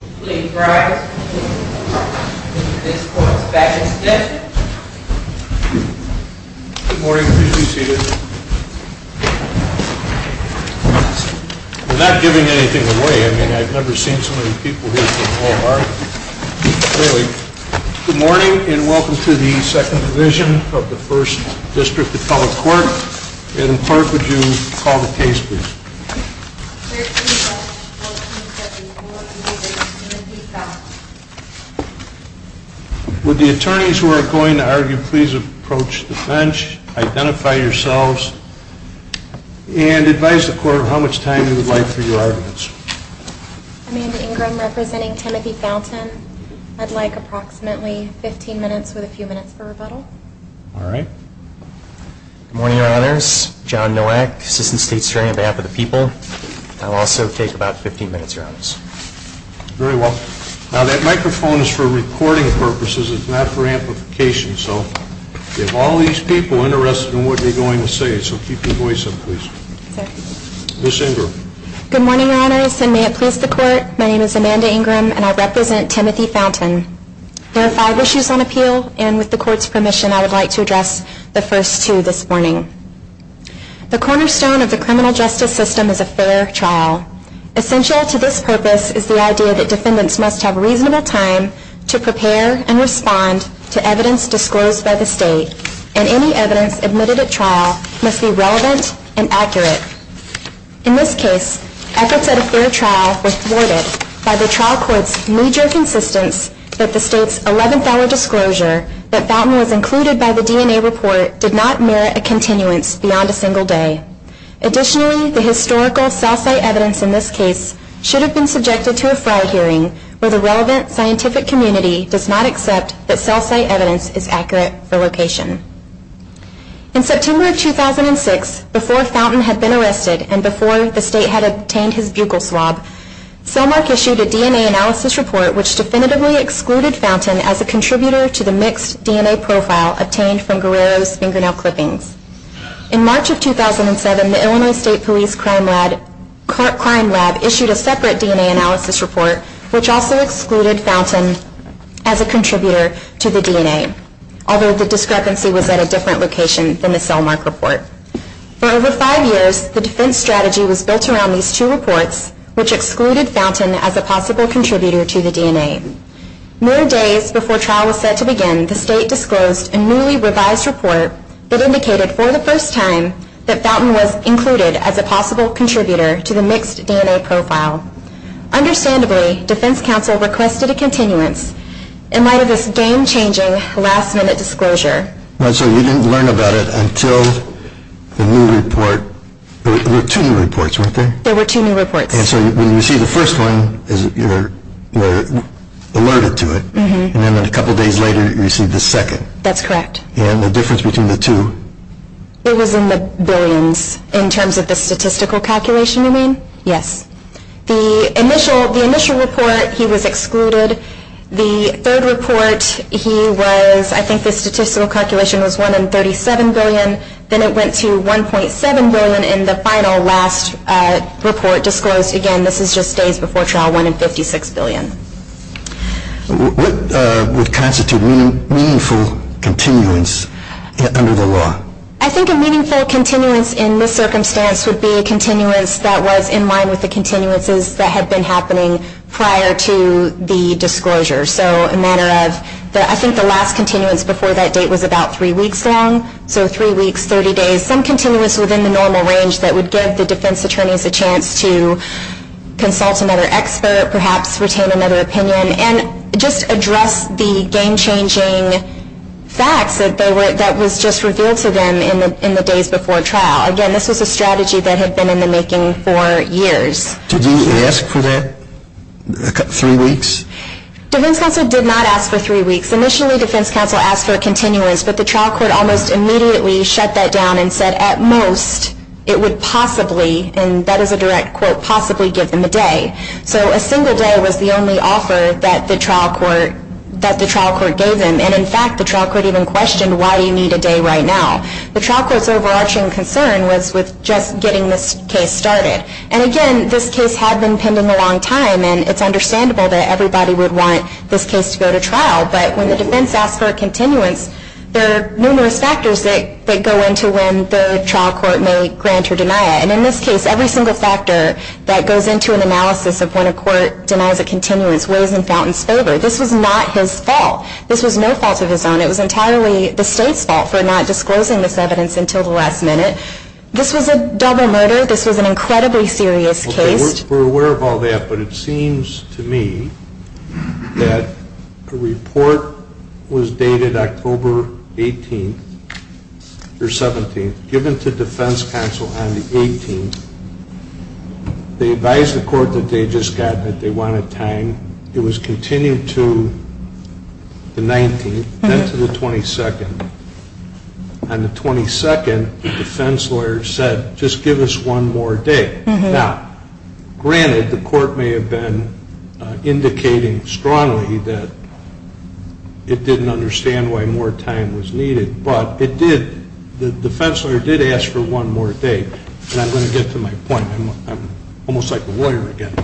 Good morning. Please be seated. We're not giving anything away. I mean, I've never seen so many people here from Walmart. Good morning and welcome to the Second Division of the First District of Public Court. Madam Clerk, would you call the case please? Would the attorneys who are going to argue please approach the bench, identify yourselves, and advise the court of how much time you would like for your arguments. I'm Amy Ingram representing Timothy Fountain. I'd like approximately 15 minutes with a few minutes for rebuttal. All right. Good morning, Your Honors. John Nowak, Assistant State Superintendent on behalf of the people. I'll also take about 15 minutes, Your Honors. Very well. Now, that microphone is for recording purposes. It's not for amplification. So if all these people are interested in what you're going to say, so keep your voice up, please. Ms. Ingram. Good morning, Your Honors, and may it please the court. My name is Amanda Ingram, and I represent Timothy Fountain. There are five issues on appeal, and with the court's permission, I would like to address the first two this morning. The cornerstone of the criminal justice system is a fair trial. Essential to this purpose is the idea that defendants must have reasonable time to prepare and respond to evidence disclosed by the state, and any evidence admitted at trial must be relevant and accurate. In this case, efforts at a fair trial were thwarted by the trial court's major consistence that the state's $11 disclosure that Fountain was included by the DNA report did not merit a continuance beyond a single day. Additionally, the historical cell site evidence in this case should have been subjected to a trial hearing where the relevant scientific community does not accept that cell site evidence is accurate for location. In September of 2006, before Fountain had been arrested and before the state had obtained his buccal swab, Cellmark issued a DNA analysis report which definitively excluded Fountain as a contributor to the mixed DNA profile obtained from Guerrero's fingernail clippings. In March of 2007, the Illinois State Police Crime Lab issued a separate DNA analysis report which also excluded Fountain as a contributor to the DNA, although the discrepancy was at a different location than the Cellmark report. For over five years, the defense strategy was built around these two reports, which excluded Fountain as a possible contributor to the DNA. More days before trial was set to begin, the state disclosed a newly revised report that indicated for the first time that Fountain was included as a possible contributor to the mixed DNA profile. Understandably, defense counsel requested a continuance in light of this game-changing last-minute disclosure. So you didn't learn about it until the new report. There were two new reports, weren't there? There were two new reports. And so when you received the first one, you were alerted to it, and then a couple days later you received the second. That's correct. And the difference between the two? It was in the billions in terms of the statistical calculation, you mean? Yes. The initial report, he was excluded. The third report, I think the statistical calculation was 1 in 37 billion. Then it went to 1.7 billion in the final last report disclosed. Again, this is just days before trial, 1 in 56 billion. What would constitute meaningful continuance under the law? I think a meaningful continuance in this circumstance would be a continuance that was in line with the continuances that had been happening prior to the disclosure. So a matter of, I think the last continuance before that date was about three weeks long. So three weeks, 30 days. Some continuance within the normal range that would give the defense attorneys a chance to consult another expert, perhaps retain another opinion, and just address the game-changing facts that was just revealed to them in the days before trial. Again, this was a strategy that had been in the making for years. Did he ask for that, three weeks? Defense counsel did not ask for three weeks. Initially, defense counsel asked for a continuance, but the trial court almost immediately shut that down and said, at most, it would possibly, and that is a direct quote, possibly give them a day. So a single day was the only offer that the trial court gave them. And in fact, the trial court even questioned, why do you need a day right now? The trial court's overarching concern was with just getting this case started. And again, this case had been pending a long time, and it's understandable that everybody would want this case to go to trial. But when the defense asks for a continuance, there are numerous factors that go into when the trial court may grant or deny it. And in this case, every single factor that goes into an analysis of when a court denies a continuance weighs in Fountain's favor. This was not his fault. This was no fault of his own. It was entirely the state's fault for not disclosing this evidence until the last minute. This was a double murder. This was an incredibly serious case. We're aware of all that, but it seems to me that a report was dated October 18th or 17th, given to defense counsel on the 18th. They advised the court that they just got, that they wanted time. It was continued to the 19th, then to the 22nd. On the 22nd, the defense lawyer said, just give us one more day. Now, granted, the court may have been indicating strongly that it didn't understand why more time was needed. But it did, the defense lawyer did ask for one more day. And I'm going to get to my point. I'm almost like a lawyer again.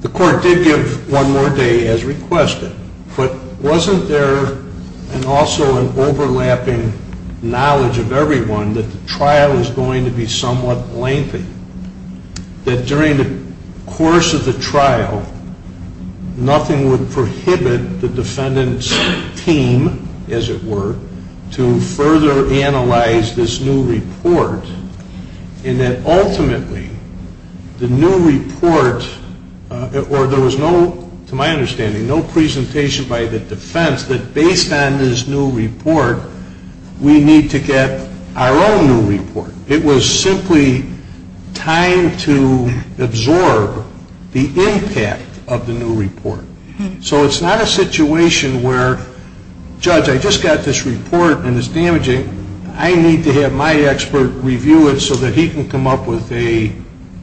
The court did give one more day as requested. But wasn't there also an overlapping knowledge of everyone that the trial was going to be somewhat lengthy? That during the course of the trial, nothing would prohibit the defendant's team, as it were, to further analyze this new report. And that ultimately, the new report, or there was no, to my understanding, no presentation by the defense that based on this new report, we need to get our own new report. It was simply time to absorb the impact of the new report. So it's not a situation where, judge, I just got this report and it's damaging. I need to have my expert review it so that he can come up with a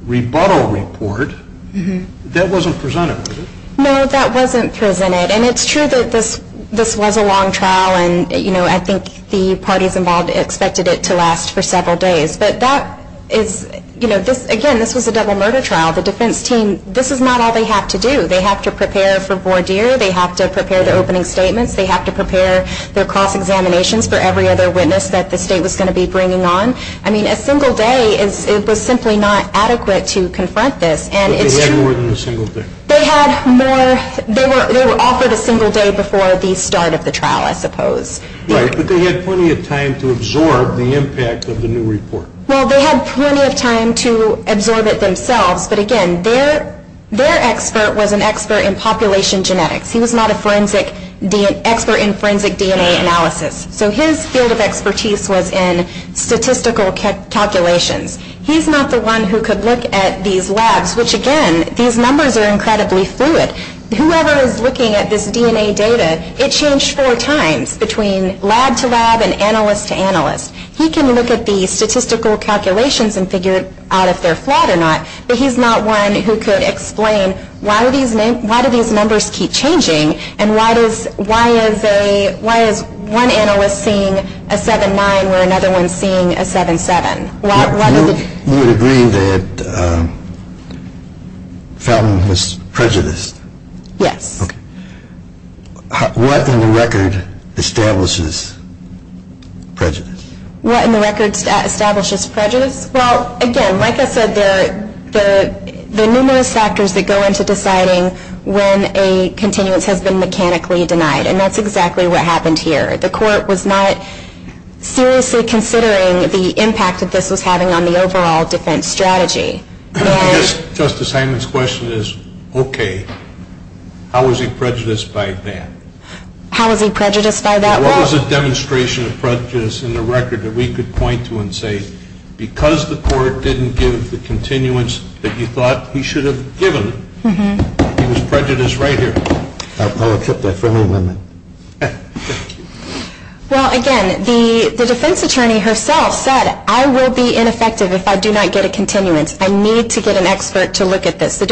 rebuttal report. That wasn't presented, was it? No, that wasn't presented. And it's true that this was a long trial, and I think the parties involved expected it to last for several days. But that is, again, this was a double murder trial. The defense team, this is not all they have to do. They have to prepare for voir dire. They have to prepare the opening statements. They have to prepare their cross-examinations for every other witness that the state was going to be bringing on. I mean, a single day, it was simply not adequate to confront this. But they had more than a single day. They had more, they were offered a single day before the start of the trial, I suppose. Right, but they had plenty of time to absorb the impact of the new report. Well, they had plenty of time to absorb it themselves. But, again, their expert was an expert in population genetics. He was not an expert in forensic DNA analysis. So his field of expertise was in statistical calculations. He's not the one who could look at these labs, which, again, these numbers are incredibly fluid. Whoever is looking at this DNA data, it changed four times between lab to lab and analyst to analyst. He can look at the statistical calculations and figure out if they're flawed or not. But he's not one who could explain why do these numbers keep changing and why is one analyst seeing a 7.9 where another one is seeing a 7.7? You would agree that Fountain was prejudiced? Yes. What in the record establishes prejudice? What in the record establishes prejudice? Well, again, like I said, there are numerous factors that go into deciding when a continuance has been mechanically denied, and that's exactly what happened here. The court was not seriously considering the impact that this was having on the overall defense strategy. I guess Justice Hyman's question is, okay, how was he prejudiced by that? How was he prejudiced by that? What was a demonstration of prejudice in the record that we could point to and say, because the court didn't give the continuance that you thought he should have given, he was prejudiced right here? I'll accept that friendly amendment. Well, again, the defense attorney herself said, I will be ineffective if I do not get a continuance. I need to get an expert to look at this. She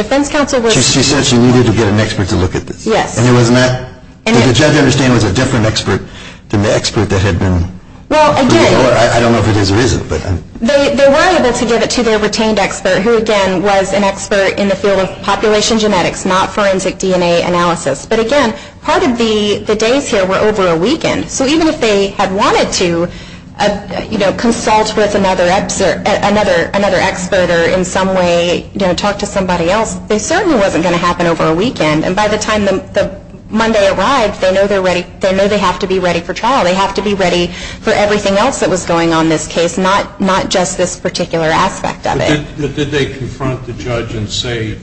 said she needed to get an expert to look at this? Yes. And the judge, I understand, was a different expert than the expert that had been? Well, again, they were able to give it to their retained expert, who, again, was an expert in the field of population genetics, not forensic DNA analysis. But, again, part of the days here were over a weekend. So even if they had wanted to consult with another expert or in some way talk to somebody else, it certainly wasn't going to happen over a weekend. And by the time Monday arrived, they know they have to be ready for trial. They have to be ready for everything else that was going on in this case, not just this particular aspect of it. Did they confront the judge and say,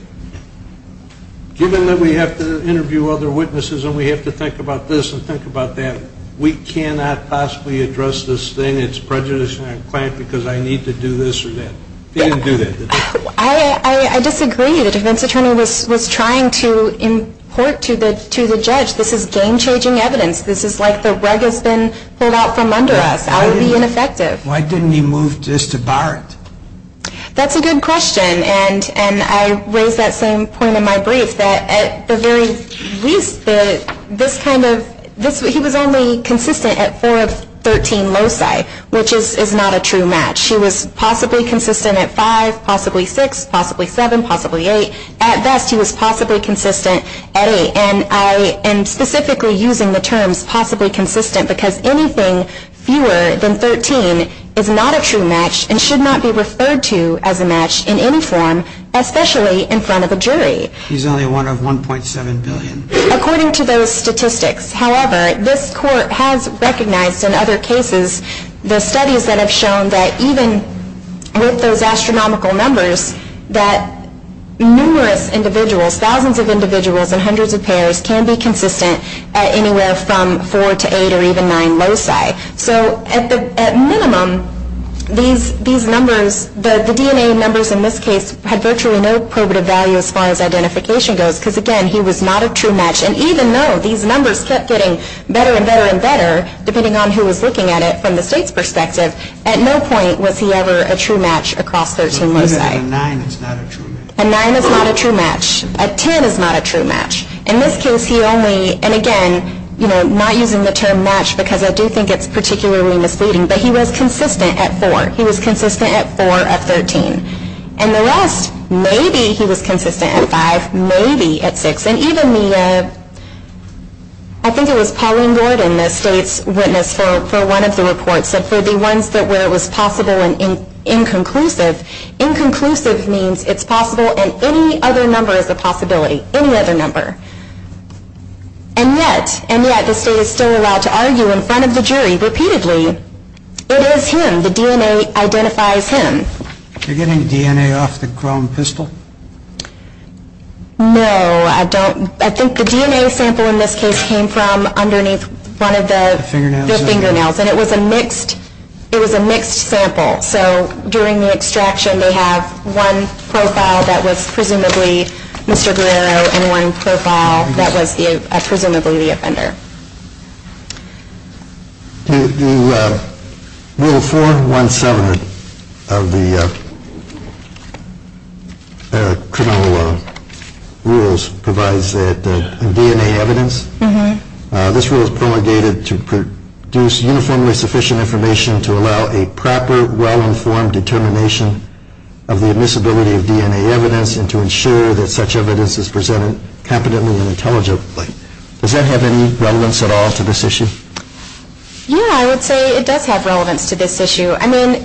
given that we have to interview other witnesses and we have to think about this and think about that, we cannot possibly address this thing? It's prejudiced and I'm clamped because I need to do this or that? They didn't do that, did they? I disagree. The defense attorney was trying to import to the judge, this is game-changing evidence. This is like the rug has been pulled out from under us. That would be ineffective. Why didn't he move just to bar it? That's a good question. And I raise that same point in my brief, that at the very least, this kind of, he was only consistent at 4 of 13 loci, which is not a true match. He was possibly consistent at 5, possibly 6, possibly 7, possibly 8. At best, he was possibly consistent at 8. And I am specifically using the terms possibly consistent because anything fewer than 13 is not a true match and should not be referred to as a match in any form, especially in front of a jury. He's only one of 1.7 billion. According to those statistics, however, this court has recognized in other cases, the studies that have shown that even with those astronomical numbers, that numerous individuals, thousands of individuals and hundreds of pairs, can be consistent at anywhere from 4 to 8 or even 9 loci. So at minimum, these numbers, the DNA numbers in this case, had virtually no probative value as far as identification goes because, again, he was not a true match. And even though these numbers kept getting better and better and better, depending on who was looking at it from the state's perspective, at no point was he ever a true match across 13 loci. But even a 9 is not a true match. A 9 is not a true match. A 10 is not a true match. In this case, he only, and again, not using the term match because I do think it's particularly misleading, but he was consistent at 4. He was consistent at 4 of 13. And the rest, maybe he was consistent at 5, maybe at 6. And even the, I think it was Pauline Gordon, the state's witness for one of the reports, said for the ones where it was possible and inconclusive, inconclusive means it's possible and any other number is a possibility, any other number. And yet, and yet, the state is still allowed to argue in front of the jury repeatedly. It is him. The DNA identifies him. You're getting DNA off the chrome pistol? No, I don't. I think the DNA sample in this case came from underneath one of the fingernails. And it was a mixed, it was a mixed sample. So during the extraction, they have one profile that was presumably Mr. Guerrero and one profile that was presumably the offender. The rule 417 of the criminal rules provides that DNA evidence, this rule is promulgated to produce uniformly sufficient information to allow a proper, well-informed determination of the admissibility of DNA evidence and to ensure that such evidence is presented competently and intelligently. Does that have any relevance at all to this issue? Yeah, I would say it does have relevance to this issue. I mean,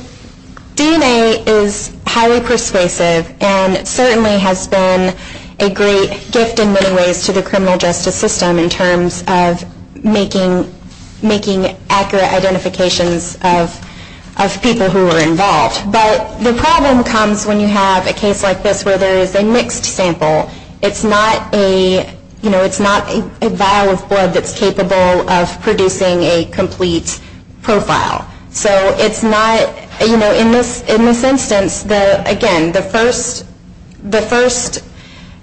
DNA is highly persuasive and certainly has been a great gift in many ways to the criminal justice system in terms of making accurate identifications of people who are involved. But the problem comes when you have a case like this where there is a mixed sample. It's not a, you know, it's not a vial of blood that's capable of producing a complete profile. So it's not, you know, in this instance, again, the first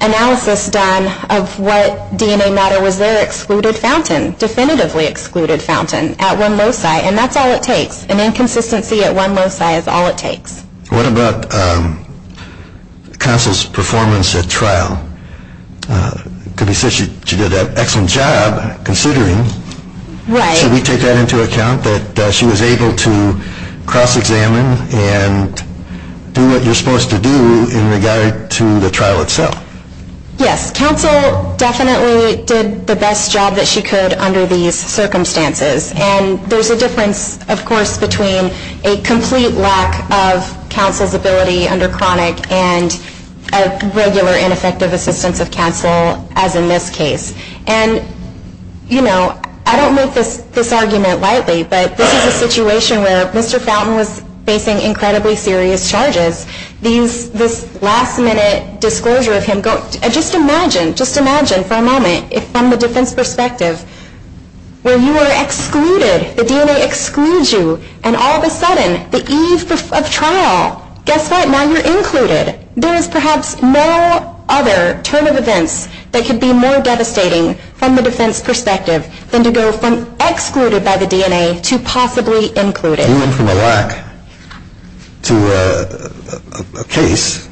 analysis done of what DNA matter was there, excluded fountain, definitively excluded fountain at one loci. And that's all it takes. An inconsistency at one loci is all it takes. What about Counsel's performance at trial? It could be said she did an excellent job, considering. Right. Should we take that into account, that she was able to cross-examine and do what you're supposed to do in regard to the trial itself? Yes, Counsel definitely did the best job that she could under these circumstances. And there's a difference, of course, between a complete lack of Counsel's ability under chronic and a regular ineffective assistance of Counsel, as in this case. And, you know, I don't make this argument lightly, but this is a situation where Mr. Fountain was facing incredibly serious charges. This last-minute disclosure of him, just imagine, just imagine for a moment, from the defense perspective, where you are excluded, the DNA excludes you, and all of a sudden, the eve of trial, guess what? Now you're included. There is perhaps no other turn of events that could be more devastating, from the defense perspective, than to go from excluded by the DNA to possibly included. Going from a lack to a case,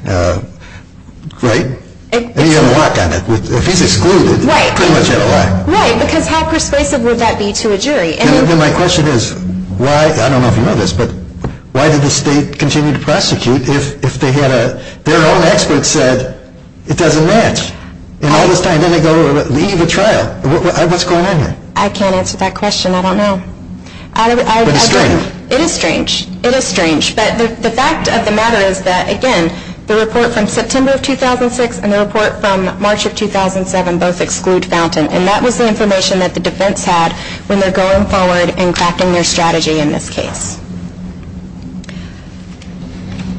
right? And he had a lock on it. If he's excluded, he pretty much had a lock. Right, because how persuasive would that be to a jury? Then my question is, why, I don't know if you know this, but why did the state continue to prosecute if their own expert said it doesn't match? And all this time, then they go to the eve of trial. What's going on here? I can't answer that question. I don't know. But it's strange. It is strange. But the fact of the matter is that, again, the report from September of 2006 and the report from March of 2007 both exclude Fountain, and that was the information that the defense had when they're going forward and crafting their strategy in this case.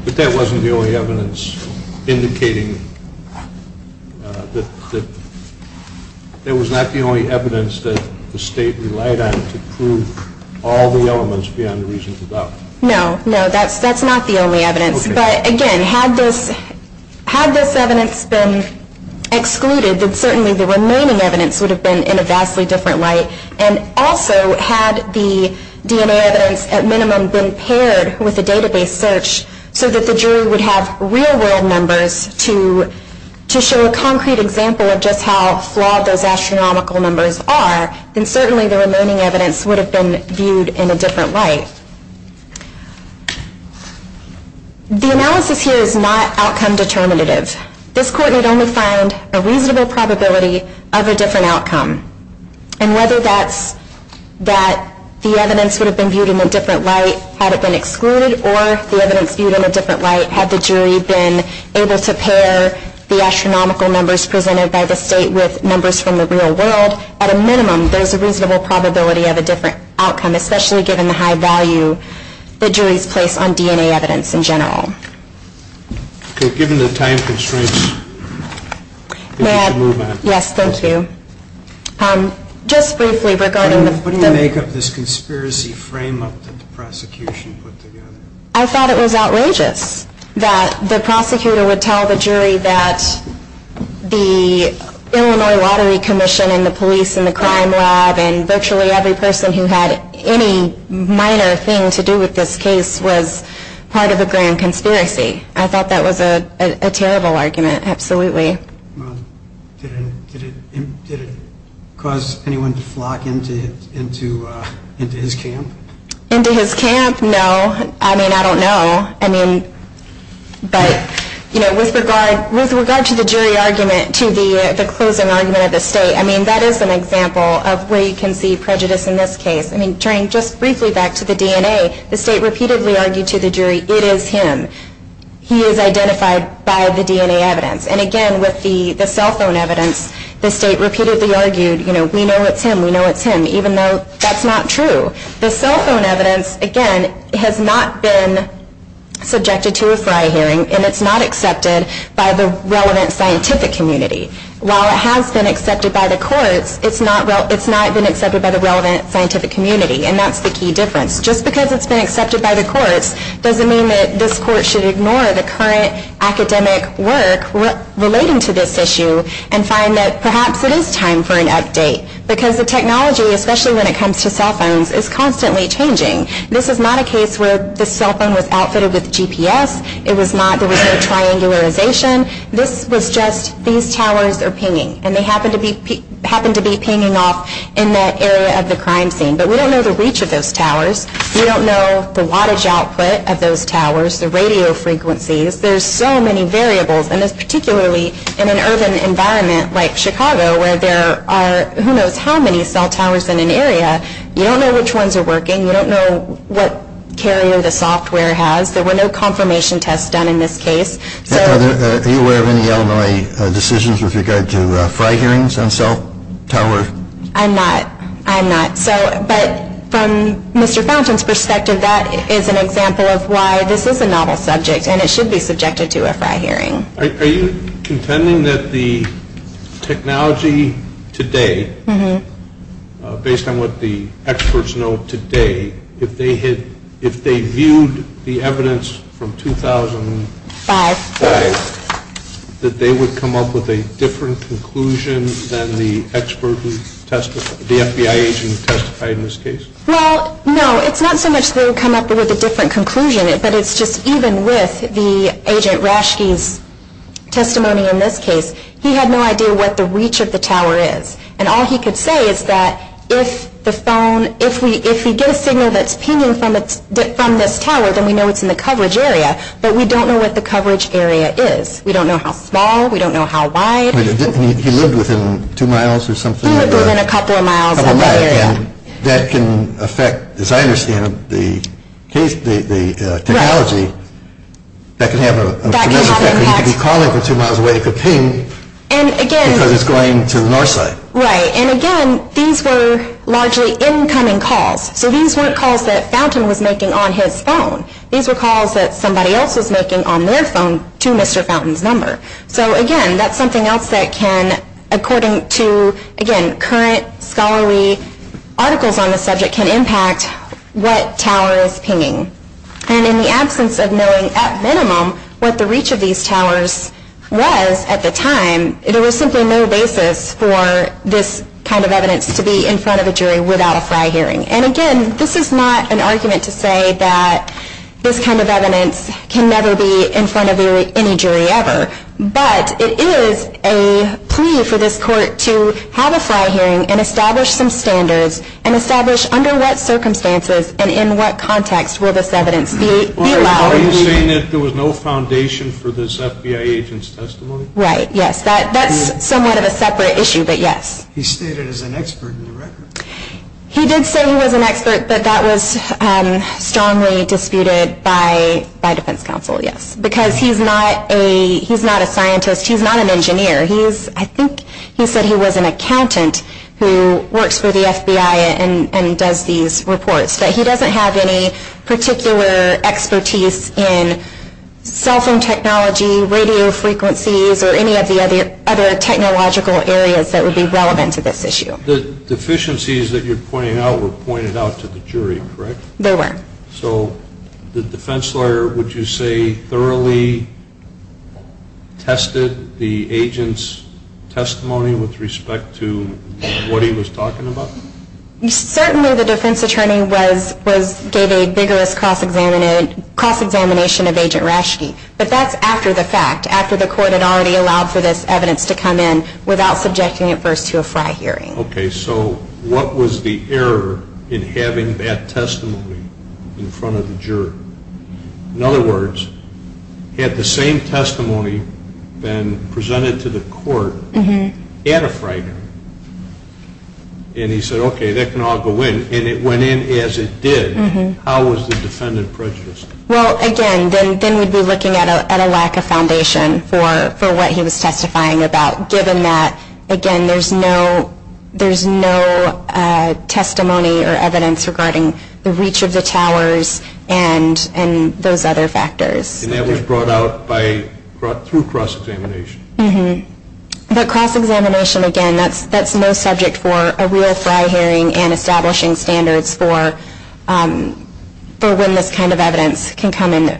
But that wasn't the only evidence indicating that it was not the only evidence that the state relied on to prove all the elements beyond the reasonable doubt. No, no, that's not the only evidence. But, again, had this evidence been excluded, then certainly the remaining evidence would have been in a vastly different light. And also, had the DNA evidence at minimum been paired with the database search so that the jury would have real-world numbers to show a concrete example of just how flawed those astronomical numbers are, then certainly the remaining evidence would have been viewed in a different light. The analysis here is not outcome determinative. This court had only found a reasonable probability of a different outcome. And whether that's that the evidence would have been viewed in a different light had it been excluded or the evidence viewed in a different light had the jury been able to pair the astronomical numbers presented by the state with numbers from the real world, at a minimum there's a reasonable probability of a different outcome, especially given the high value that juries place on DNA evidence in general. Okay, given the time constraints, I think we should move on. Yes, thank you. Just briefly regarding the... What do you make of this conspiracy frame-up that the prosecution put together? I thought it was outrageous that the prosecutor would tell the jury that the Illinois Lottery Commission and the police and the crime lab and virtually every person who had any minor thing to do with this case was part of a grand conspiracy. I thought that was a terrible argument, absolutely. Did it cause anyone to flock into his camp? Into his camp? No. I mean, I don't know. But with regard to the jury argument to the closing argument of the state, that is an example of where you can see prejudice in this case. Turning just briefly back to the DNA, the state repeatedly argued to the jury, it is him, he is identified by the DNA evidence. And again, with the cell phone evidence, the state repeatedly argued, we know it's him, we know it's him, even though that's not true. The cell phone evidence, again, has not been subjected to a fry hearing and it's not accepted by the relevant scientific community. While it has been accepted by the courts, it's not been accepted by the relevant scientific community, and that's the key difference. Just because it's been accepted by the courts doesn't mean that this court should ignore the current academic work relating to this issue and find that perhaps it is time for an update. Because the technology, especially when it comes to cell phones, is constantly changing. This is not a case where the cell phone was outfitted with GPS. There was no triangularization. This was just these towers are pinging, and they happen to be pinging off in that area of the crime scene. But we don't know the reach of those towers. We don't know the wattage output of those towers, the radio frequencies. There's so many variables, and particularly in an urban environment like Chicago where there are who knows how many cell towers in an area, you don't know which ones are working. You don't know what carrier the software has. There were no confirmation tests done in this case. Are you aware of any Illinois decisions with regard to fry hearings on cell towers? I'm not. I'm not. But from Mr. Fountain's perspective, that is an example of why this is a novel subject and it should be subjected to a fry hearing. Are you contending that the technology today, based on what the experts know today, if they viewed the evidence from 2005, that they would come up with a different conclusion than the FBI agent who testified in this case? Well, no. It's not so much they would come up with a different conclusion, but it's just even with the agent Rashke's testimony in this case, he had no idea what the reach of the tower is. And all he could say is that if the phone, if we get a signal that's pinging from this tower, then we know it's in the coverage area, but we don't know what the coverage area is. We don't know how small. We don't know how wide. He lived within two miles or something? He lived within a couple of miles of the area. And that can affect, as I understand it, the technology. That can have an impact. You could be calling from two miles away. It could ping because it's going to the north side. Right. And, again, these were largely incoming calls. So these weren't calls that Fountain was making on his phone. These were calls that somebody else was making on their phone to Mr. Fountain's number. So, again, that's something else that can, according to, again, current scholarly articles on the subject can impact what tower is pinging. And in the absence of knowing, at minimum, what the reach of these towers was at the time, there was simply no basis for this kind of evidence to be in front of a jury without a fry hearing. And, again, this is not an argument to say that this kind of evidence can never be in front of any jury ever. But it is a plea for this court to have a fry hearing and establish some standards and establish under what circumstances and in what context will this evidence be allowed. Are you saying that there was no foundation for this FBI agent's testimony? Right. Yes. That's somewhat of a separate issue, but yes. He stated as an expert in the record. He did say he was an expert, but that was strongly disputed by defense counsel, yes, because he's not a scientist. He's not an engineer. I think he said he was an accountant who works for the FBI and does these reports. But he doesn't have any particular expertise in cell phone technology, radio frequencies, or any of the other technological areas that would be relevant to this issue. The deficiencies that you're pointing out were pointed out to the jury, correct? They were. Correct. So the defense lawyer, would you say, thoroughly tested the agent's testimony with respect to what he was talking about? Certainly the defense attorney gave a vigorous cross-examination of Agent Raschke, but that's after the fact, after the court had already allowed for this evidence to come in without subjecting it first to a fry hearing. Okay, so what was the error in having that testimony in front of the jury? In other words, had the same testimony been presented to the court at a fry hearing, and he said, okay, that can all go in, and it went in as it did, how was the defendant prejudiced? Well, again, then we'd be looking at a lack of foundation for what he was testifying about, given that, again, there's no testimony or evidence regarding the reach of the towers and those other factors. And that was brought out through cross-examination. But cross-examination, again, that's no subject for a real fry hearing and establishing standards for when this kind of evidence can come in the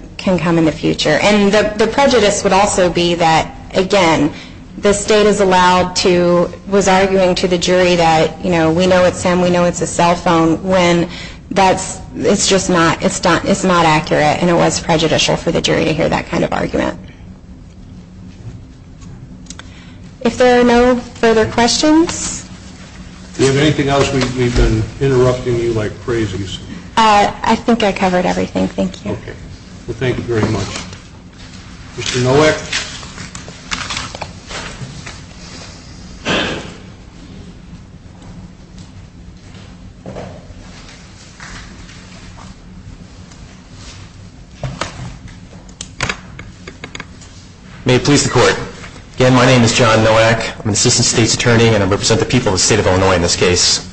future. And the prejudice would also be that, again, the state is allowed to, was arguing to the jury that, you know, we know it's him, we know it's a cell phone, when that's, it's just not, it's not accurate, and it was prejudicial for the jury to hear that kind of argument. If there are no further questions? Do you have anything else? We've been interrupting you like crazies. I think I covered everything, thank you. Okay. Well, thank you very much. Mr. Nowak? May it please the Court. Again, my name is John Nowak. I'm an Assistant State's Attorney, and I represent the people of the state of Illinois in this case.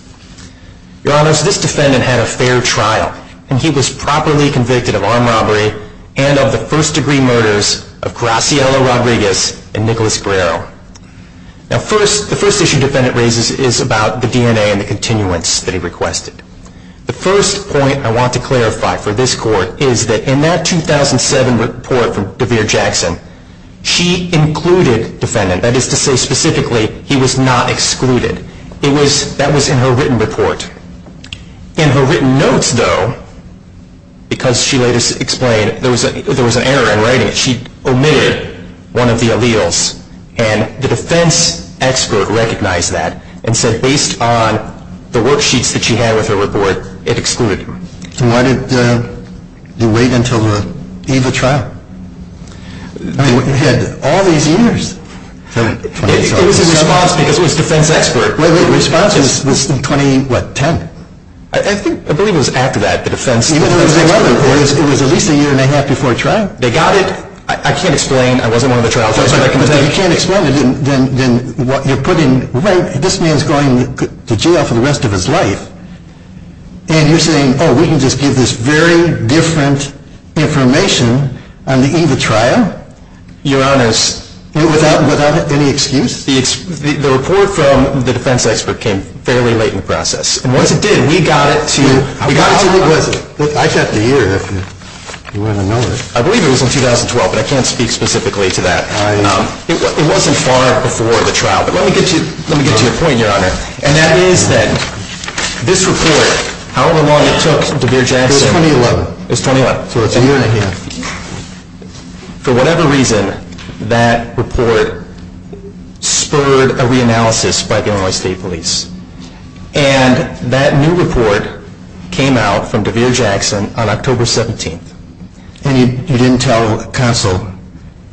Your Honors, this defendant had a fair trial, and he was properly convicted of armed robbery and of the first-degree murders of Graciela Rodriguez and Nicholas Guerrero. Now, first, the first issue the defendant raises is about the DNA and the continuance that he requested. The first point I want to clarify for this Court is that in that 2007 report from Devere Jackson, she included defendant. That is to say, specifically, he was not excluded. It was, that was in her written report. In her written notes, though, because she later explained, there was an error in writing it. She omitted one of the alleles, and the defense expert recognized that and said based on the worksheets that she had with her report, it excluded him. And why did you wait until the eve of trial? I mean, you had all these years. It was in response because it was defense expert. The response was in 2010. I believe it was after that, the defense expert. It was at least a year and a half before trial. They got it. I can't explain. I wasn't one of the trial. If you can't explain it, then what you're putting, right, this man's going to jail for the rest of his life, and you're saying, oh, we can just give this very different information on the eve of trial? Your Honors. Without any excuse? The report from the defense expert came fairly late in the process. And once it did, we got it to you. How long was it? I checked the year if you want to know it. I believe it was in 2012, but I can't speak specifically to that. It wasn't far before the trial. But let me get to your point, Your Honor. And that is that this report, however long it took, Devere Jackson. It was 2011. It was 2011. So it's a year and a half. For whatever reason, that report spurred a reanalysis by the Illinois State Police. And that new report came out from Devere Jackson on October 17th. And you didn't tell counsel?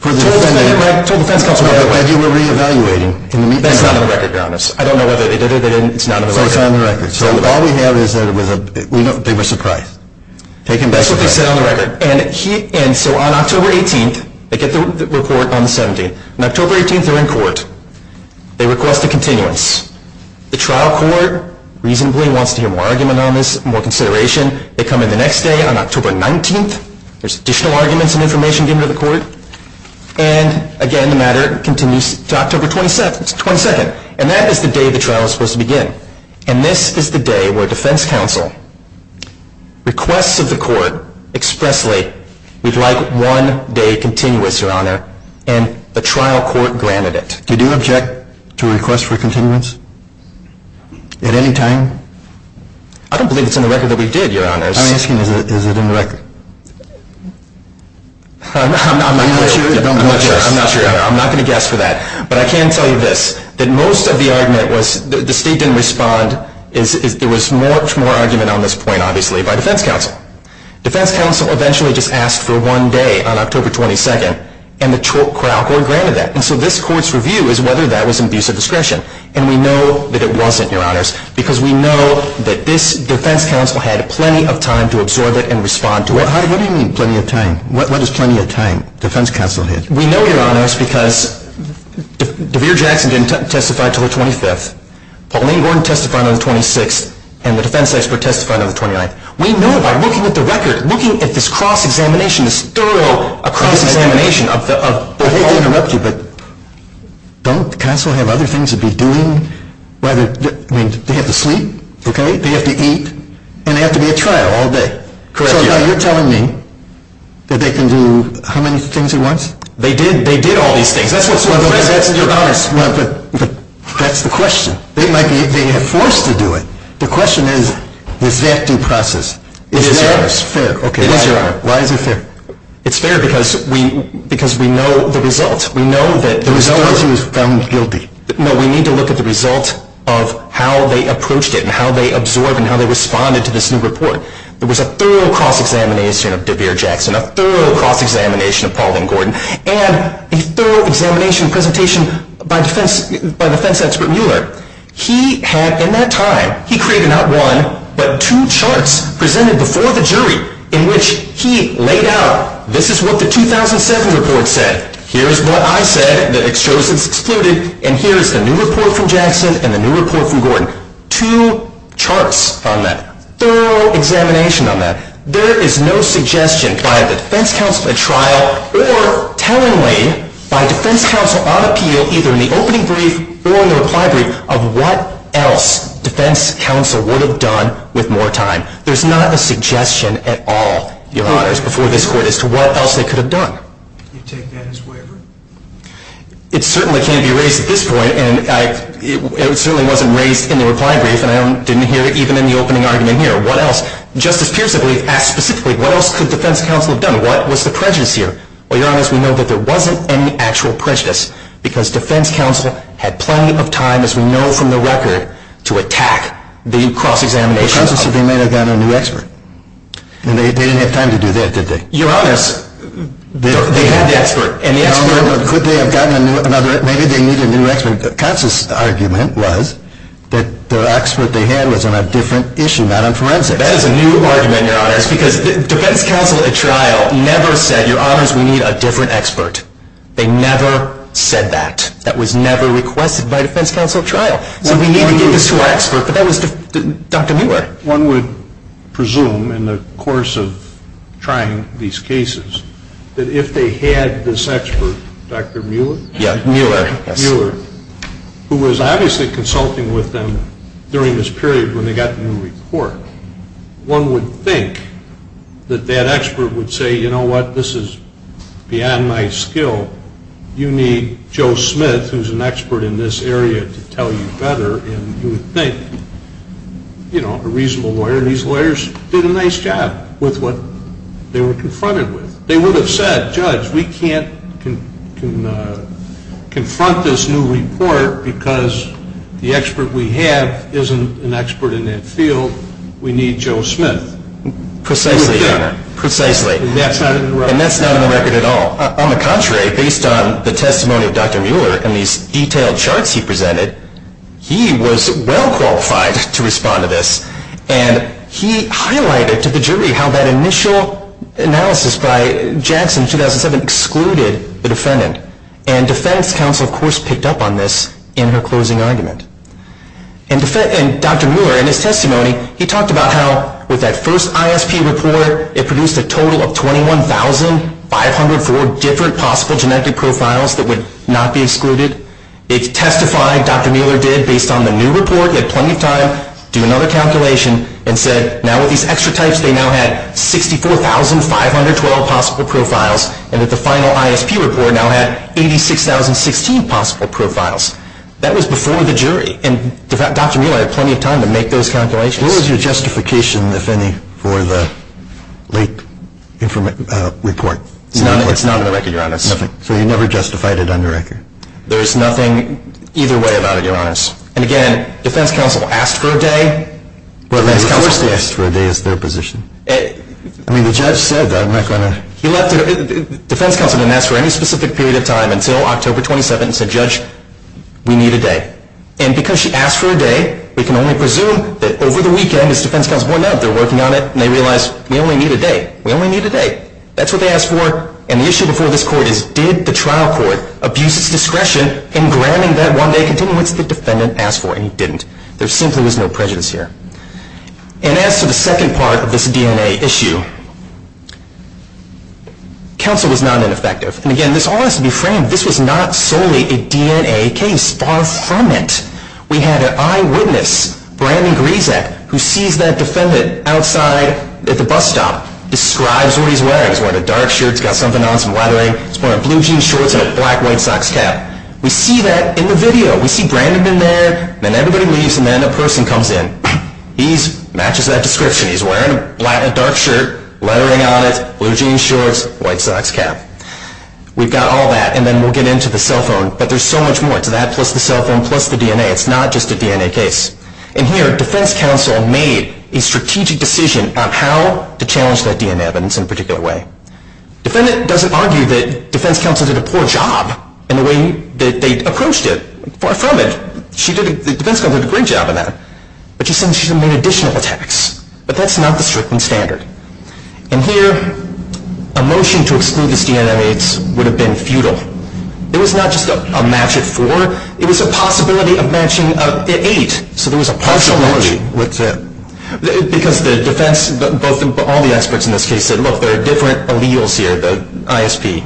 I told the defense counsel that you were reevaluating. That's not on the record, Your Honors. I don't know whether they did it or they didn't. It's not on the record. So it's on the record. So all we have is that it was a bigger surprise. That's what they said on the record. And so on October 18th, they get the report on the 17th. On October 18th, they're in court. They request a continuance. The trial court reasonably wants to hear more argument on this, more consideration. They come in the next day on October 19th. There's additional arguments and information given to the court. And, again, the matter continues to October 22nd. And that is the day the trial is supposed to begin. And this is the day where defense counsel requests of the court expressly, we'd like one day continuous, Your Honor. And the trial court granted it. Did you object to a request for continuance at any time? I don't believe it's in the record that we did, Your Honors. I'm asking, is it in the record? I'm not going to guess for that. But I can tell you this, that most of the argument was that the state didn't respond. There was much more argument on this point, obviously, by defense counsel. Defense counsel eventually just asked for one day on October 22nd, and the trial court granted that. And so this court's review is whether that was an abuse of discretion. And we know that it wasn't, Your Honors, because we know that this defense counsel had plenty of time to absorb it and respond to it. What do you mean plenty of time? What does plenty of time defense counsel had? We know, Your Honors, because Devere Jackson didn't testify until the 25th. Pauline Gordon testified on the 26th. And the defense expert testified on the 29th. We know by looking at the record, looking at this cross-examination, this thorough cross-examination. I hate to interrupt you, but don't counsel have other things to be doing? They have to sleep. They have to eat. And they have to be at trial all day. So now you're telling me that they can do how many things at once? They did. They did all these things. That's what's so impressive, Your Honors. But that's the question. They might be forced to do it. The question is, is that due process? It is, Your Honor. It's fair. It is, Your Honor. Why is it fair? It's fair because we know the results. We know that there was no one who was found guilty. No, we need to look at the result of how they approached it and how they absorbed and how they responded to this new report. There was a thorough cross-examination of Devere Jackson, a thorough cross-examination of Pauline Gordon, and a thorough examination and presentation by defense expert Mueller. He had, in that time, he created not one, but two charts presented before the jury in which he laid out, this is what the 2007 report said, here is what I said that shows it's excluded, and here is the new report from Jackson and the new report from Gordon. Two charts on that. Thorough examination on that. There is no suggestion by the defense counsel at trial or tellingly by defense counsel on appeal, either in the opening brief or in the reply brief, of what else defense counsel would have done with more time. There's not a suggestion at all, Your Honors, before this court as to what else they could have done. You take that as wavering? It certainly can't be raised at this point, and it certainly wasn't raised in the reply brief, and I didn't hear it even in the opening argument here. What else? Justice Pierce, I believe, asked specifically, what else could defense counsel have done? What was the prejudice here? Well, Your Honors, we know that there wasn't any actual prejudice because defense counsel had plenty of time, as we know from the record, to attack the cross-examination. Well, counsel said they may have gotten a new expert. They didn't have time to do that, did they? Your Honors, they had the expert. Could they have gotten another? Maybe they needed a new expert. Counsel's argument was that the expert they had was on a different issue, not on forensics. That is a new argument, Your Honors, because defense counsel at trial never said, Your Honors, we need a different expert. They never said that. That was never requested by defense counsel at trial. So we need to get this to our expert, but that was Dr. Muir. One would presume, in the course of trying these cases, that if they had this expert, Dr. Muir, who was obviously consulting with them during this period when they got the new report, one would think that that expert would say, You know what, this is beyond my skill. You need Joe Smith, who's an expert in this area, to tell you better. And you would think, you know, a reasonable lawyer. These lawyers did a nice job with what they were confronted with. They would have said, Judge, we can't confront this new report because the expert we have isn't an expert in that field. We need Joe Smith. Precisely, Your Honor. Precisely. And that's not in the record. And that's not in the record at all. On the contrary, based on the testimony of Dr. Muir and these detailed charts he presented, he was well qualified to respond to this. And he highlighted to the jury how that initial analysis by Jackson in 2007 excluded the defendant. And defense counsel, of course, picked up on this in her closing argument. And Dr. Muir, in his testimony, he talked about how with that first ISP report, it produced a total of 21,504 different possible genetic profiles that would not be excluded. It testified, Dr. Muir did, based on the new report. He had plenty of time to do another calculation and said, now with these extra types, they now had 64,512 possible profiles and that the final ISP report now had 86,016 possible profiles. That was before the jury. And Dr. Muir had plenty of time to make those calculations. What was your justification, if any, for the late report? It's not in the record, Your Honor. So you never justified it on the record? There's nothing either way about it, Your Honor. And again, defense counsel asked for a day. Of course they asked for a day. It's their position. I mean, the judge said that. Defense counsel didn't ask for any specific period of time until October 27 and said, Judge, we need a day. And because she asked for a day, we can only presume that over the weekend, as defense counsel pointed out, they're working on it and they realize we only need a day. We only need a day. That's what they asked for. And the issue before this Court is did the trial court abuse its discretion in gramming that one day continuing what the defendant asked for? And it didn't. There simply was no prejudice here. And as to the second part of this DNA issue, counsel was not ineffective. And again, this all has to be framed. This was not solely a DNA case. Far from it. We had an eyewitness, Brandon Grisak, who sees that defendant outside at the bus stop, describes what he's wearing. He's wearing a dark shirt. He's got something on, some lettering. He's wearing blue jean shorts and a black white socks cap. We see that in the video. We see Brandon in there. Then everybody leaves and then a person comes in. He matches that description. He's wearing a dark shirt, lettering on it, blue jean shorts, white socks cap. We've got all that. And then we'll get into the cell phone. But there's so much more to that plus the cell phone plus the DNA. It's not just a DNA case. And here, defense counsel made a strategic decision on how to challenge that DNA evidence in a particular way. Defendant doesn't argue that defense counsel did a poor job in the way that they approached it. Far from it. Defense counsel did a great job in that. But she said she made additional attacks. But that's not the stricken standard. And here, a motion to exclude these DNA mates would have been futile. It was not just a match at four. It was a possibility of matching at eight. So there was a possibility. Partial match? What's that? Because the defense, all the experts in this case said, look, there are different alleles here, the ISP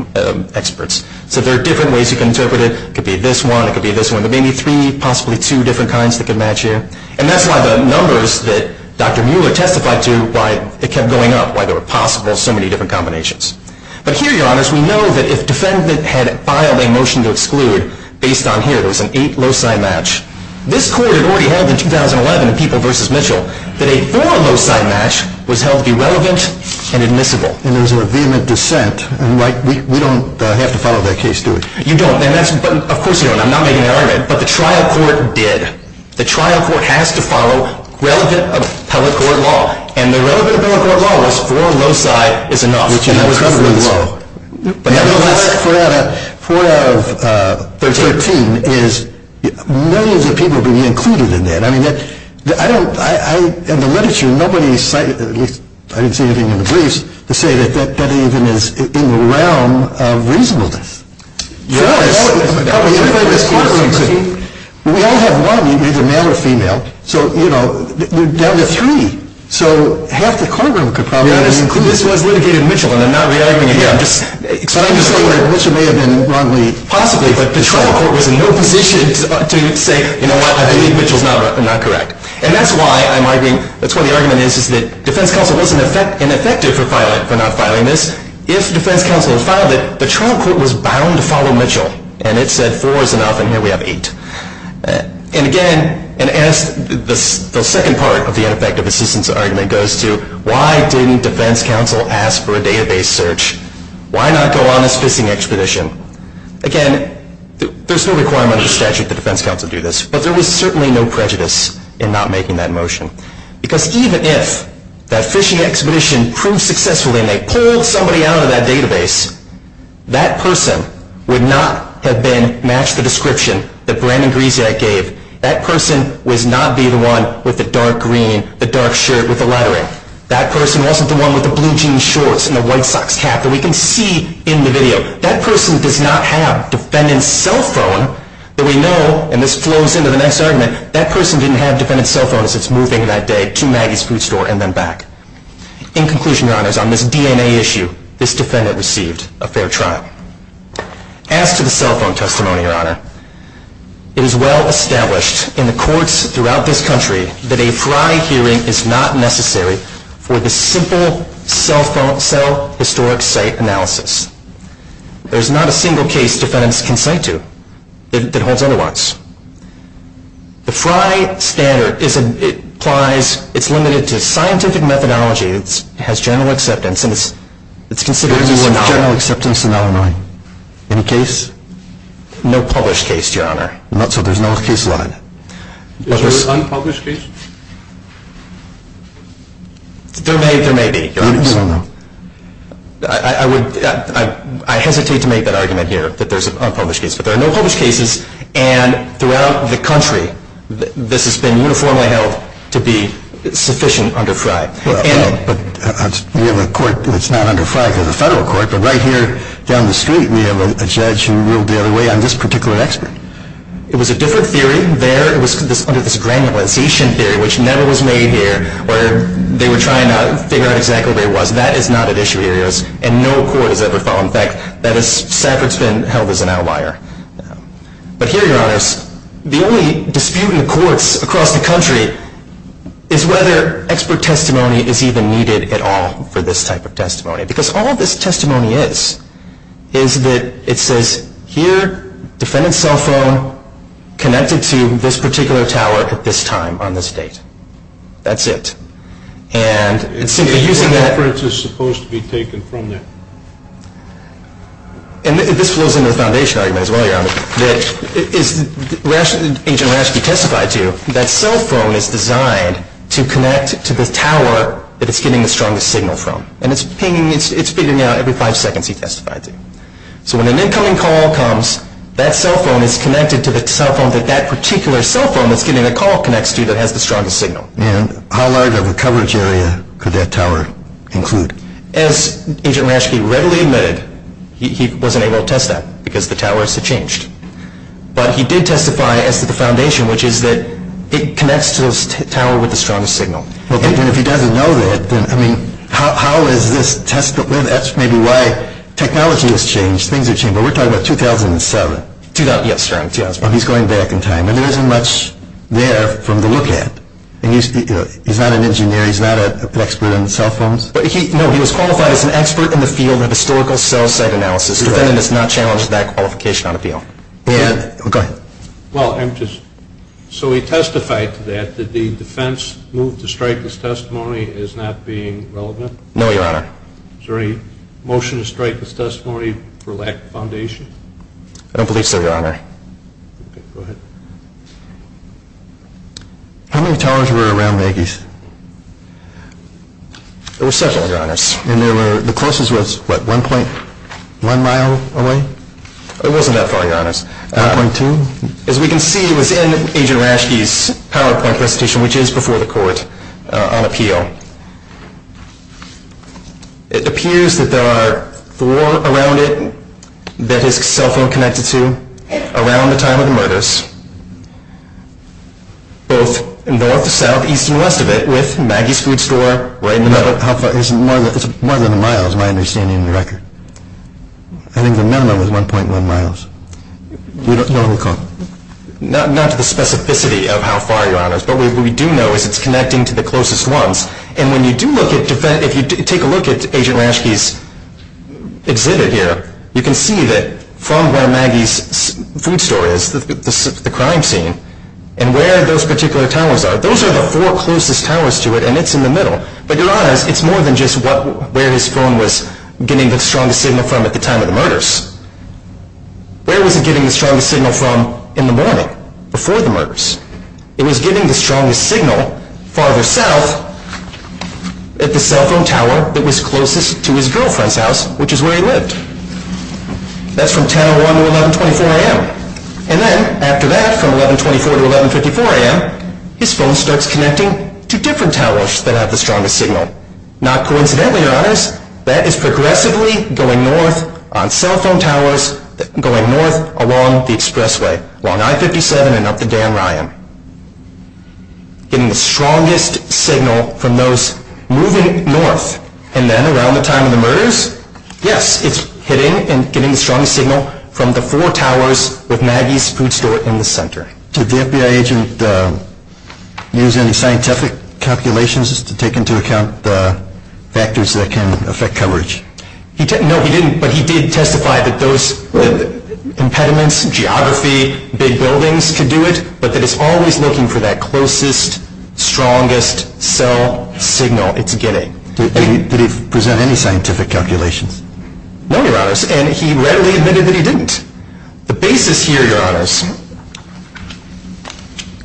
experts. So there are different ways you can interpret it. It could be this one. It could be this one. There may be three, possibly two different kinds that could match here. And that's why the numbers that Dr. Mueller testified to, why it kept going up, why there were possible so many different combinations. But here, Your Honors, we know that if defendant had filed a motion to exclude based on here, there's an eight loci match. This court had already held in 2011 in People v. Mitchell that a four loci match was held irrelevant and admissible. And there was a vehement dissent. And we don't have to follow that case, do we? You don't. Of course you don't. I'm not making an argument. But the trial court did. The trial court has to follow relevant appellate court law. And the relevant appellate court law was four loci is enough. Which is incredibly low. Four out of 13 is millions of people being included in that. I mean, in the literature, nobody cited, at least I didn't see anything in the briefs, to say that that even is in the realm of reasonableness. We all have one, either male or female. So, you know, down to three. So half the courtroom could probably be included. This was litigated in Mitchell. And I'm not re-arguing it here. I'm just saying that Mitchell may have been wrongly, possibly, but the trial court was in no position to say, you know what, I believe Mitchell's not correct. And that's why I'm arguing, that's why the argument is, is that defense counsel wasn't ineffective for not filing this. If defense counsel had filed it, the trial court was bound to follow Mitchell. And it said four is enough, and here we have eight. And again, and as the second part of the ineffective assistance argument goes to, why didn't defense counsel ask for a database search? Why not go on this fishing expedition? Again, there's no requirement under statute that defense counsel do this. But there was certainly no prejudice in not making that motion. Because even if that fishing expedition proved successful and they pulled somebody out of that database, that person would not have been matched the description that Brandon Griesiak gave. That person was not the one with the dark green, the dark shirt with the laddering. That person wasn't the one with the blue jean shorts and the white socks cap that we can see in the video. That person does not have defendant's cell phone that we know, and this flows into the next argument, that person didn't have defendant's cell phone as it's moving that day to Maggie's Food Store and then back. In conclusion, your honors, on this DNA issue, this defendant received a fair trial. As to the cell phone testimony, your honor, it is well established in the courts throughout this country that a FRI hearing is not necessary for the simple cell historic site analysis. There's not a single case defendants can cite to that holds otherwise. The FRI standard applies, it's limited to scientific methodology. It has general acceptance. It's considered as a general acceptance in Illinois. Any case? No published case, your honor. Not so, there's no case line. Is there an unpublished case? There may be. You don't know. I hesitate to make that argument here, that there's an unpublished case. But there are no published cases, and throughout the country, this has been uniformly held to be sufficient under FRI. But we have a court that's not under FRI. There's a federal court, but right here down the street, we have a judge who ruled the other way on this particular expert. It was a different theory there. It was under this granularization theory, which never was made here, where they were trying to figure out exactly where it was. That is not an issue here, and no court has ever found that. That is, SAFRT's been held as an outlier. But here, your honors, the only dispute in the courts across the country is whether expert testimony is even needed at all for this type of testimony. Because all this testimony is, is that it says, here, defendant's cell phone connected to this particular tower at this time on this date. That's it. And it's simply using that. The reference is supposed to be taken from that. And this flows into the foundation argument as well, your honor, that, as Agent Rashke testified to, that cell phone is designed to connect to the tower that it's getting the strongest signal from. And it's pinging, it's pinging out every five seconds, he testified to. So when an incoming call comes, that cell phone is connected to the cell phone that that particular cell phone that's getting the call connects to that has the strongest signal. And how large of a coverage area could that tower include? As Agent Rashke readily admitted, he wasn't able to test that because the towers had changed. But he did testify as to the foundation, which is that it connects to the tower with the strongest signal. And if he doesn't know that, then, I mean, how is this testable? That's maybe why technology has changed, things have changed. But we're talking about 2007. Yes, sir, 2007. He's going back in time. And there isn't much there for him to look at. He's not an engineer, he's not an expert on cell phones. No, he was qualified as an expert in the field of historical cell site analysis. The defendant is not challenged with that qualification on appeal. Go ahead. Well, I'm just, so he testified to that, that the defense moved to strike this testimony as not being relevant? No, your honor. Is there any motion to strike this testimony for lack of foundation? I don't believe so, your honor. Okay, go ahead. How many towers were around Maggie's? There were several, your honors. And there were, the closest was what, 1.1 mile away? It wasn't that far, your honors. 1.2? As we can see, it was in Agent Rashke's PowerPoint presentation, which is before the court on appeal. It appears that there are four around it that his cell phone connected to around the time of the murders, both north, south, east, and west of it with Maggie's food store right in the middle. It's more than a mile is my understanding of the record. I think the minimum was 1.1 miles. We don't know who called. What we do know is it's connecting to the closest ones. And when you do look at, if you take a look at Agent Rashke's exhibit here, you can see that from where Maggie's food store is, the crime scene, and where those particular towers are, those are the four closest towers to it, and it's in the middle. But, your honors, it's more than just where his phone was getting the strongest signal from at the time of the murders. Where was it getting the strongest signal from in the morning, before the murders? It was getting the strongest signal farther south at the cell phone tower that was closest to his girlfriend's house, which is where he lived. That's from 10.01 to 11.24 a.m. And then, after that, from 11.24 to 11.54 a.m., his phone starts connecting to different towers that have the strongest signal. Not coincidentally, your honors, that is progressively going north on cell phone towers, going north along the expressway, along I-57 and up the Dan Ryan, getting the strongest signal from those moving north. And then, around the time of the murders, yes, it's hitting and getting the strongest signal from the four towers with Maggie's food store in the center. Did the FBI agent use any scientific calculations to take into account the factors that can affect coverage? No, he didn't, but he did testify that those impediments, geography, big buildings could do it, but that it's always looking for that closest, strongest cell signal it's getting. Did he present any scientific calculations? No, your honors, and he readily admitted that he didn't. The basis here, your honors,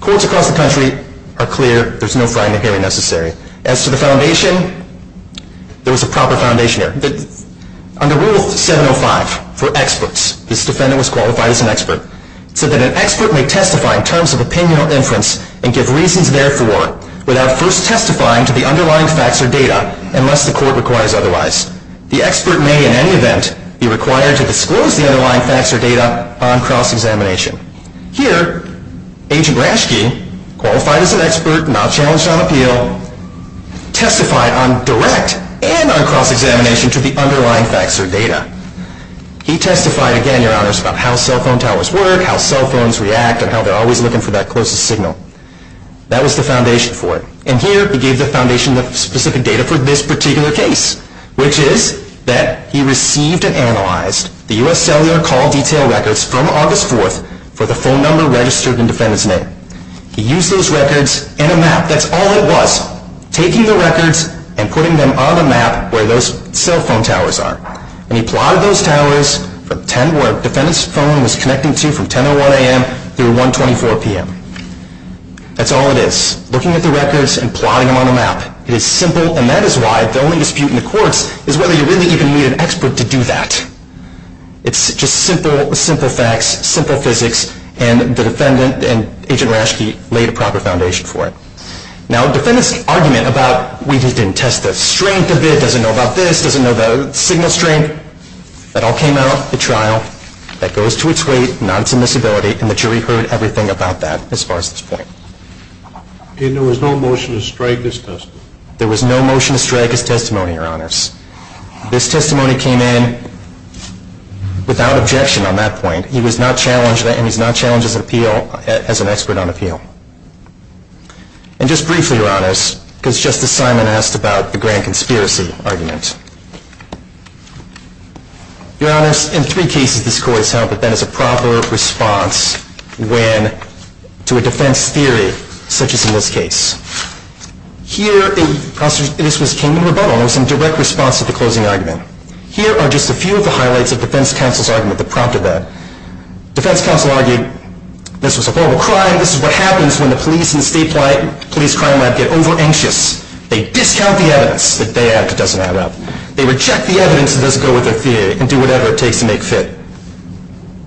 courts across the country are clear. There's no frying the hammer necessary. As to the foundation, there was a proper foundation here. Under Rule 705 for experts, this defendant was qualified as an expert. It said that an expert may testify in terms of opinion or inference and give reasons therefore without first testifying to the underlying facts or data unless the court requires otherwise. The expert may, in any event, be required to disclose the underlying facts or data upon cross-examination. Here, Agent Raschke, qualified as an expert, not challenged on appeal, testified on direct and on cross-examination to the underlying facts or data. He testified, again, your honors, about how cell phone towers work, how cell phones react, and how they're always looking for that closest signal. That was the foundation for it, and here he gave the foundation of specific data for this particular case, which is that he received and analyzed the U.S. cellular call detail records from August 4th for the phone number registered in the defendant's name. He used those records in a map. That's all it was, taking the records and putting them on a map where those cell phone towers are. And he plotted those towers from 10 where the defendant's phone was connecting to from 10 to 1 a.m. through 124 p.m. That's all it is, looking at the records and plotting them on a map. It is simple, and that is why the only dispute in the courts is whether you really even need an expert to do that. It's just simple, simple facts, simple physics, and the defendant and Agent Rashke laid a proper foundation for it. Now, the defendant's argument about we just didn't test the strength of it, doesn't know about this, doesn't know the signal strength, that all came out at trial. That goes to its weight, not its admissibility, and the jury heard everything about that as far as this point. And there was no motion to strike this testimony? There was no motion to strike his testimony, your honors. This testimony came in without objection on that point. He was not challenged, and he's not challenged as an expert on appeal. And just briefly, your honors, because Justice Simon asked about the grand conspiracy argument. Your honors, in three cases this court has held that that is a proper response to a defense theory such as in this case. Here, this came in rebuttal. It was in direct response to the closing argument. Here are just a few of the highlights of defense counsel's argument that prompted that. Defense counsel argued, this was a horrible crime. This is what happens when the police and state police crime lab get over-anxious. They discount the evidence that they have that doesn't add up. They reject the evidence that doesn't go with their theory and do whatever it takes to make fit.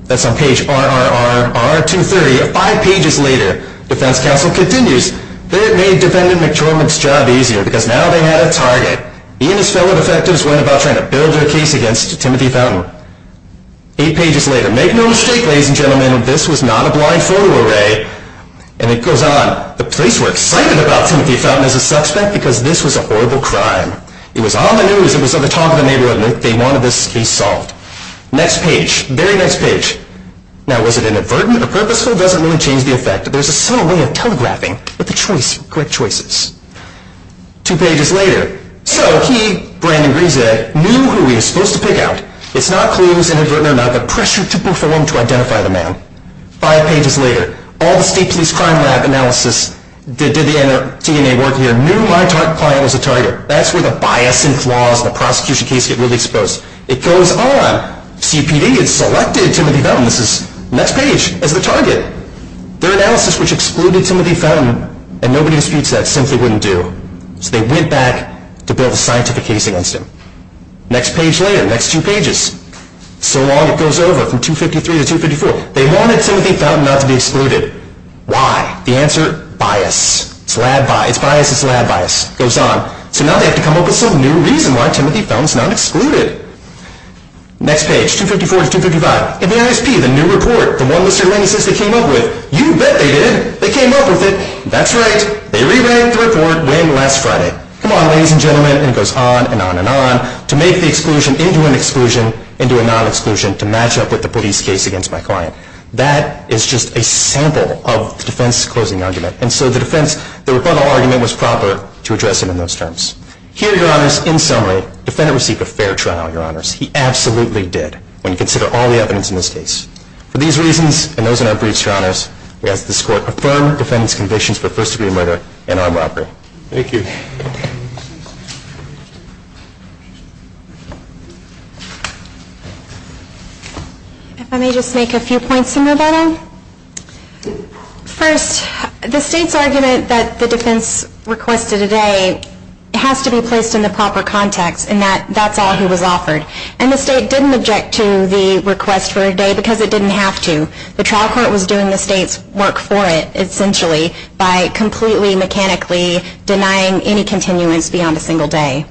That's on page RRRR230. Five pages later, defense counsel continues. They had made defendant McDormand's job easier because now they had a target. He and his fellow defectives went about trying to build their case against Timothy Fountain. Eight pages later, make no mistake, ladies and gentlemen, this was not a blind photo array. And it goes on. The police were excited about Timothy Fountain as a suspect because this was a horrible crime. It was on the news. It was on the talk of the neighborhood. They wanted this case solved. Next page, very next page. Now, was it inadvertent or purposeful? It doesn't really change the effect. There's a subtle way of telegraphing, but the choice, correct choices. Two pages later, so he, Brandon Greenzegg, knew who he was supposed to pick out. It's not clues, inadvertent or not, but pressure to perform to identify the man. Five pages later, all the state police crime lab analysis did the DNA work here, knew my client was the target. That's where the bias and flaws in the prosecution case get really exposed. It goes on. Now, CPD had selected Timothy Fountain, this is next page, as the target. Their analysis, which excluded Timothy Fountain, and nobody disputes that, simply wouldn't do. So they went back to build a scientific case against him. Next page later, next two pages. So long it goes over from 253 to 254. They wanted Timothy Fountain not to be excluded. Why? The answer, bias. It's lab bias, it's bias, it's lab bias. It goes on. So now they have to come up with some new reason why Timothy Fountain is not excluded. Next page, 254 to 255. The ISP, the new report, the one-lister analysis they came up with. You bet they did. They came up with it. That's right. They re-ran the report way last Friday. Come on, ladies and gentlemen, and it goes on and on and on to make the exclusion into an exclusion, into a non-exclusion to match up with the police case against my client. That is just a sample of the defense closing argument. And so the defense, the rebuttal argument was proper to address him in those terms. Here, Your Honors, in summary, defendant received a fair trial, Your Honors. He absolutely did when you consider all the evidence in this case. For these reasons and those in our briefs, Your Honors, we ask that this Court affirm defendant's convictions for first-degree murder and armed robbery. Thank you. If I may just make a few points in rebuttal. First, the state's argument that the defense requested a day has to be placed in the proper context and that that's all he was offered. And the state didn't object to the request for a day because it didn't have to. The trial court was doing the state's work for it, essentially, by completely mechanically denying any continuance beyond a single day.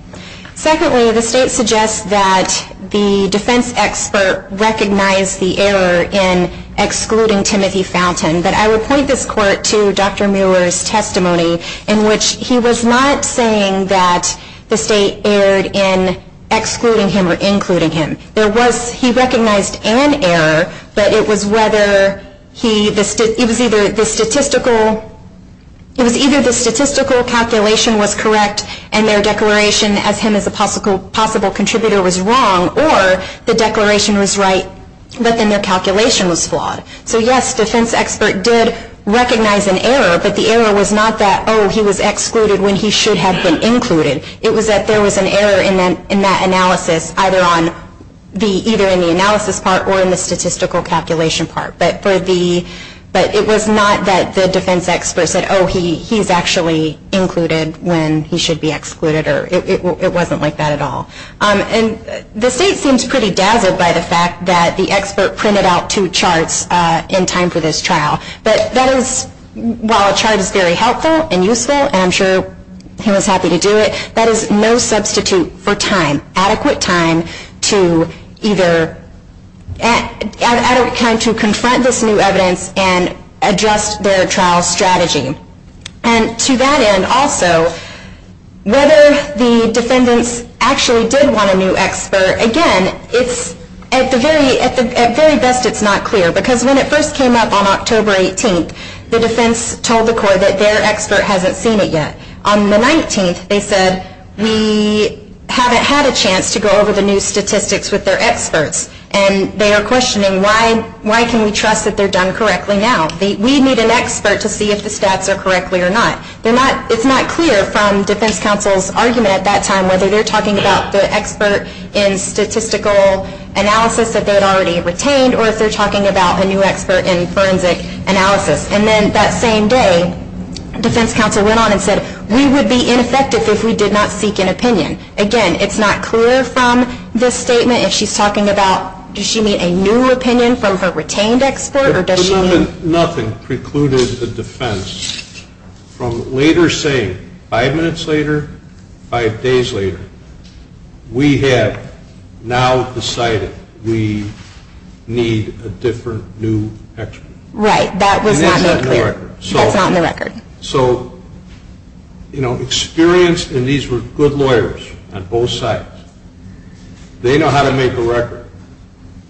Secondly, the state suggests that the defense expert recognized the error in excluding Timothy Fountain. But I would point this Court to Dr. Mueller's testimony, in which he was not saying that the state erred in excluding him or including him. He recognized an error, but it was either the statistical calculation was correct and their declaration as him as a possible contributor was wrong, or the declaration was right, but then their calculation was flawed. So yes, defense expert did recognize an error, but the error was not that, oh, he was excluded when he should have been included. It was that there was an error in that analysis, either in the analysis part or in the statistical calculation part. But it was not that the defense expert said, oh, he's actually included when he should be excluded. It wasn't like that at all. And the state seems pretty dazzled by the fact that the expert printed out two charts in time for this trial. But that is, while a chart is very helpful and useful, and I'm sure he was happy to do it, that is no substitute for time, adequate time, to either confront this new evidence and adjust their trial strategy. And to that end also, whether the defendants actually did want a new expert, again, at the very best it's not clear, because when it first came up on October 18th, the defense told the Court that their expert hasn't seen it yet. On the 19th, they said, we haven't had a chance to go over the new statistics with their experts. And they are questioning, why can we trust that they're done correctly now? We need an expert to see if the stats are correctly or not. It's not clear from defense counsel's argument at that time whether they're talking about the expert in statistical analysis that they had already retained or if they're talking about a new expert in forensic analysis. And then that same day, defense counsel went on and said, we would be ineffective if we did not seek an opinion. Again, it's not clear from this statement if she's talking about, does she need a new opinion from her retained expert or does she need? Nothing precluded the defense from later saying, five minutes later, five days later, we have now decided we need a different new expert. Right. That was not made clear. That's not in the record. So, you know, experienced, and these were good lawyers on both sides, they know how to make a record.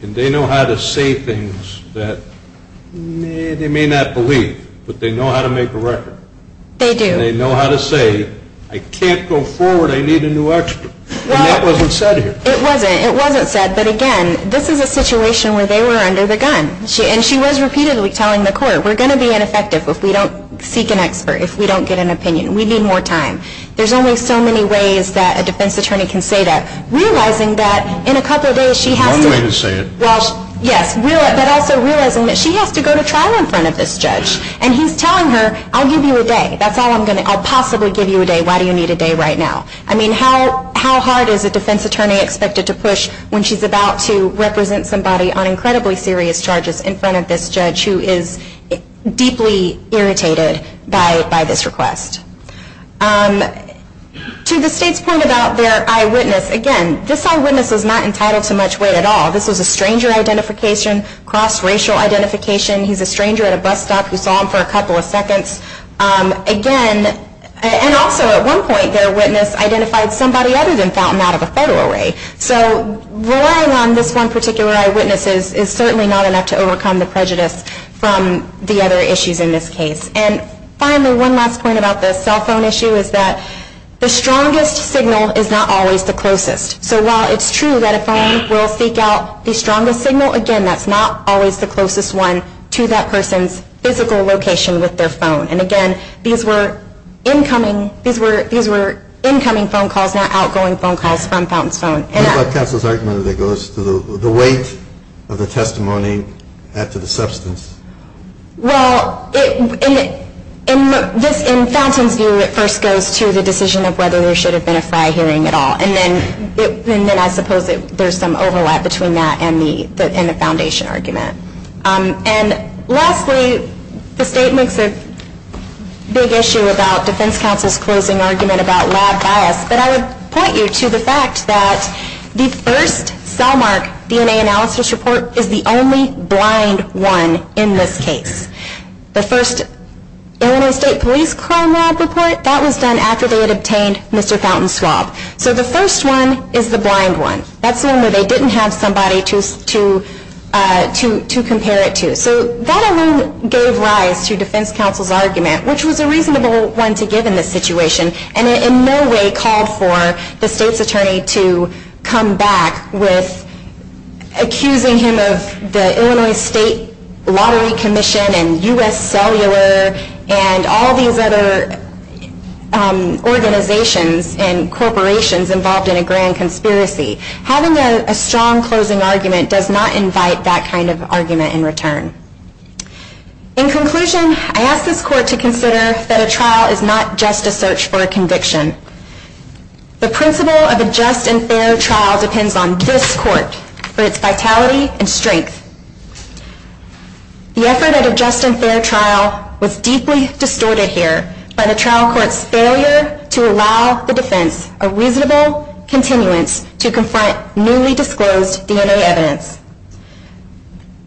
And they know how to say things that they may not believe, but they know how to make a record. They do. And they know how to say, I can't go forward, I need a new expert. And that wasn't said here. It wasn't. It wasn't said. But again, this is a situation where they were under the gun. And she was repeatedly telling the court, we're going to be ineffective if we don't seek an expert, if we don't get an opinion. We need more time. There's only so many ways that a defense attorney can say that, realizing that in a couple of days she has to go to trial in front of this judge. And he's telling her, I'll give you a day. That's all I'm going to do. I'll possibly give you a day. Why do you need a day right now? I mean, how hard is a defense attorney expected to push when she's about to represent somebody on incredibly serious charges in front of this judge who is deeply irritated by this request? To the State's point about their eyewitness, again, this eyewitness is not entitled to much weight at all. This was a stranger identification, cross-racial identification. He's a stranger at a bus stop who saw him for a couple of seconds. Again, and also at one point, their witness identified somebody other than Fountain out of a federal array. So relying on this one particular eyewitness is certainly not enough to overcome the prejudice from the other issues in this case. And finally, one last point about the cell phone issue is that the strongest signal is not always the closest. So while it's true that a phone will seek out the strongest signal, again, that's not always the closest one to that person's physical location with their phone. And again, these were incoming phone calls, not outgoing phone calls from Fountain's phone. What about counsel's argument that it goes to the weight of the testimony add to the substance? Well, in Fountain's view, it first goes to the decision of whether there should have been a fried hearing at all. And then I suppose there's some overlap between that and the Foundation argument. And lastly, the State makes a big issue about Defense Counsel's closing argument about lab bias, but I would point you to the fact that the first cellmark DNA analysis report is the only blind one in this case. The first Illinois State Police crime lab report, that was done after they had obtained Mr. Fountain's swab. So the first one is the blind one. That's the one where they didn't have somebody to compare it to. So that alone gave rise to Defense Counsel's argument, which was a reasonable one to give in this situation, and it in no way called for the State's attorney to come back with accusing him of the Illinois State Lottery Commission and U.S. Cellular and all these other organizations and corporations involved in a grand conspiracy. Having a strong closing argument does not invite that kind of argument in return. In conclusion, I ask this Court to consider that a trial is not just a search for a conviction. The principle of a just and fair trial depends on this Court for its vitality and strength. The effort at a just and fair trial was deeply distorted here by the trial court's failure to allow the defense a reasonable continuance to confront newly disclosed DNA evidence,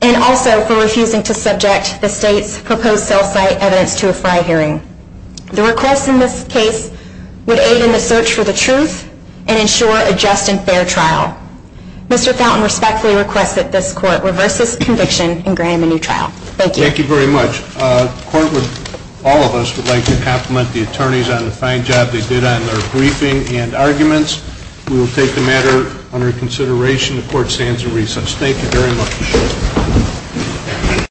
and also for refusing to subject the State's proposed cell site evidence to a FRI hearing. The request in this case would aid in the search for the truth and ensure a just and fair trial. Mr. Fountain respectfully requests that this Court reverse this conviction and grant him a new trial. Thank you. Thank you very much. The Court, all of us, would like to compliment the attorneys on the fine job they did on their briefing and arguments. We will take the matter under consideration. The Court stands in recess. Thank you very much.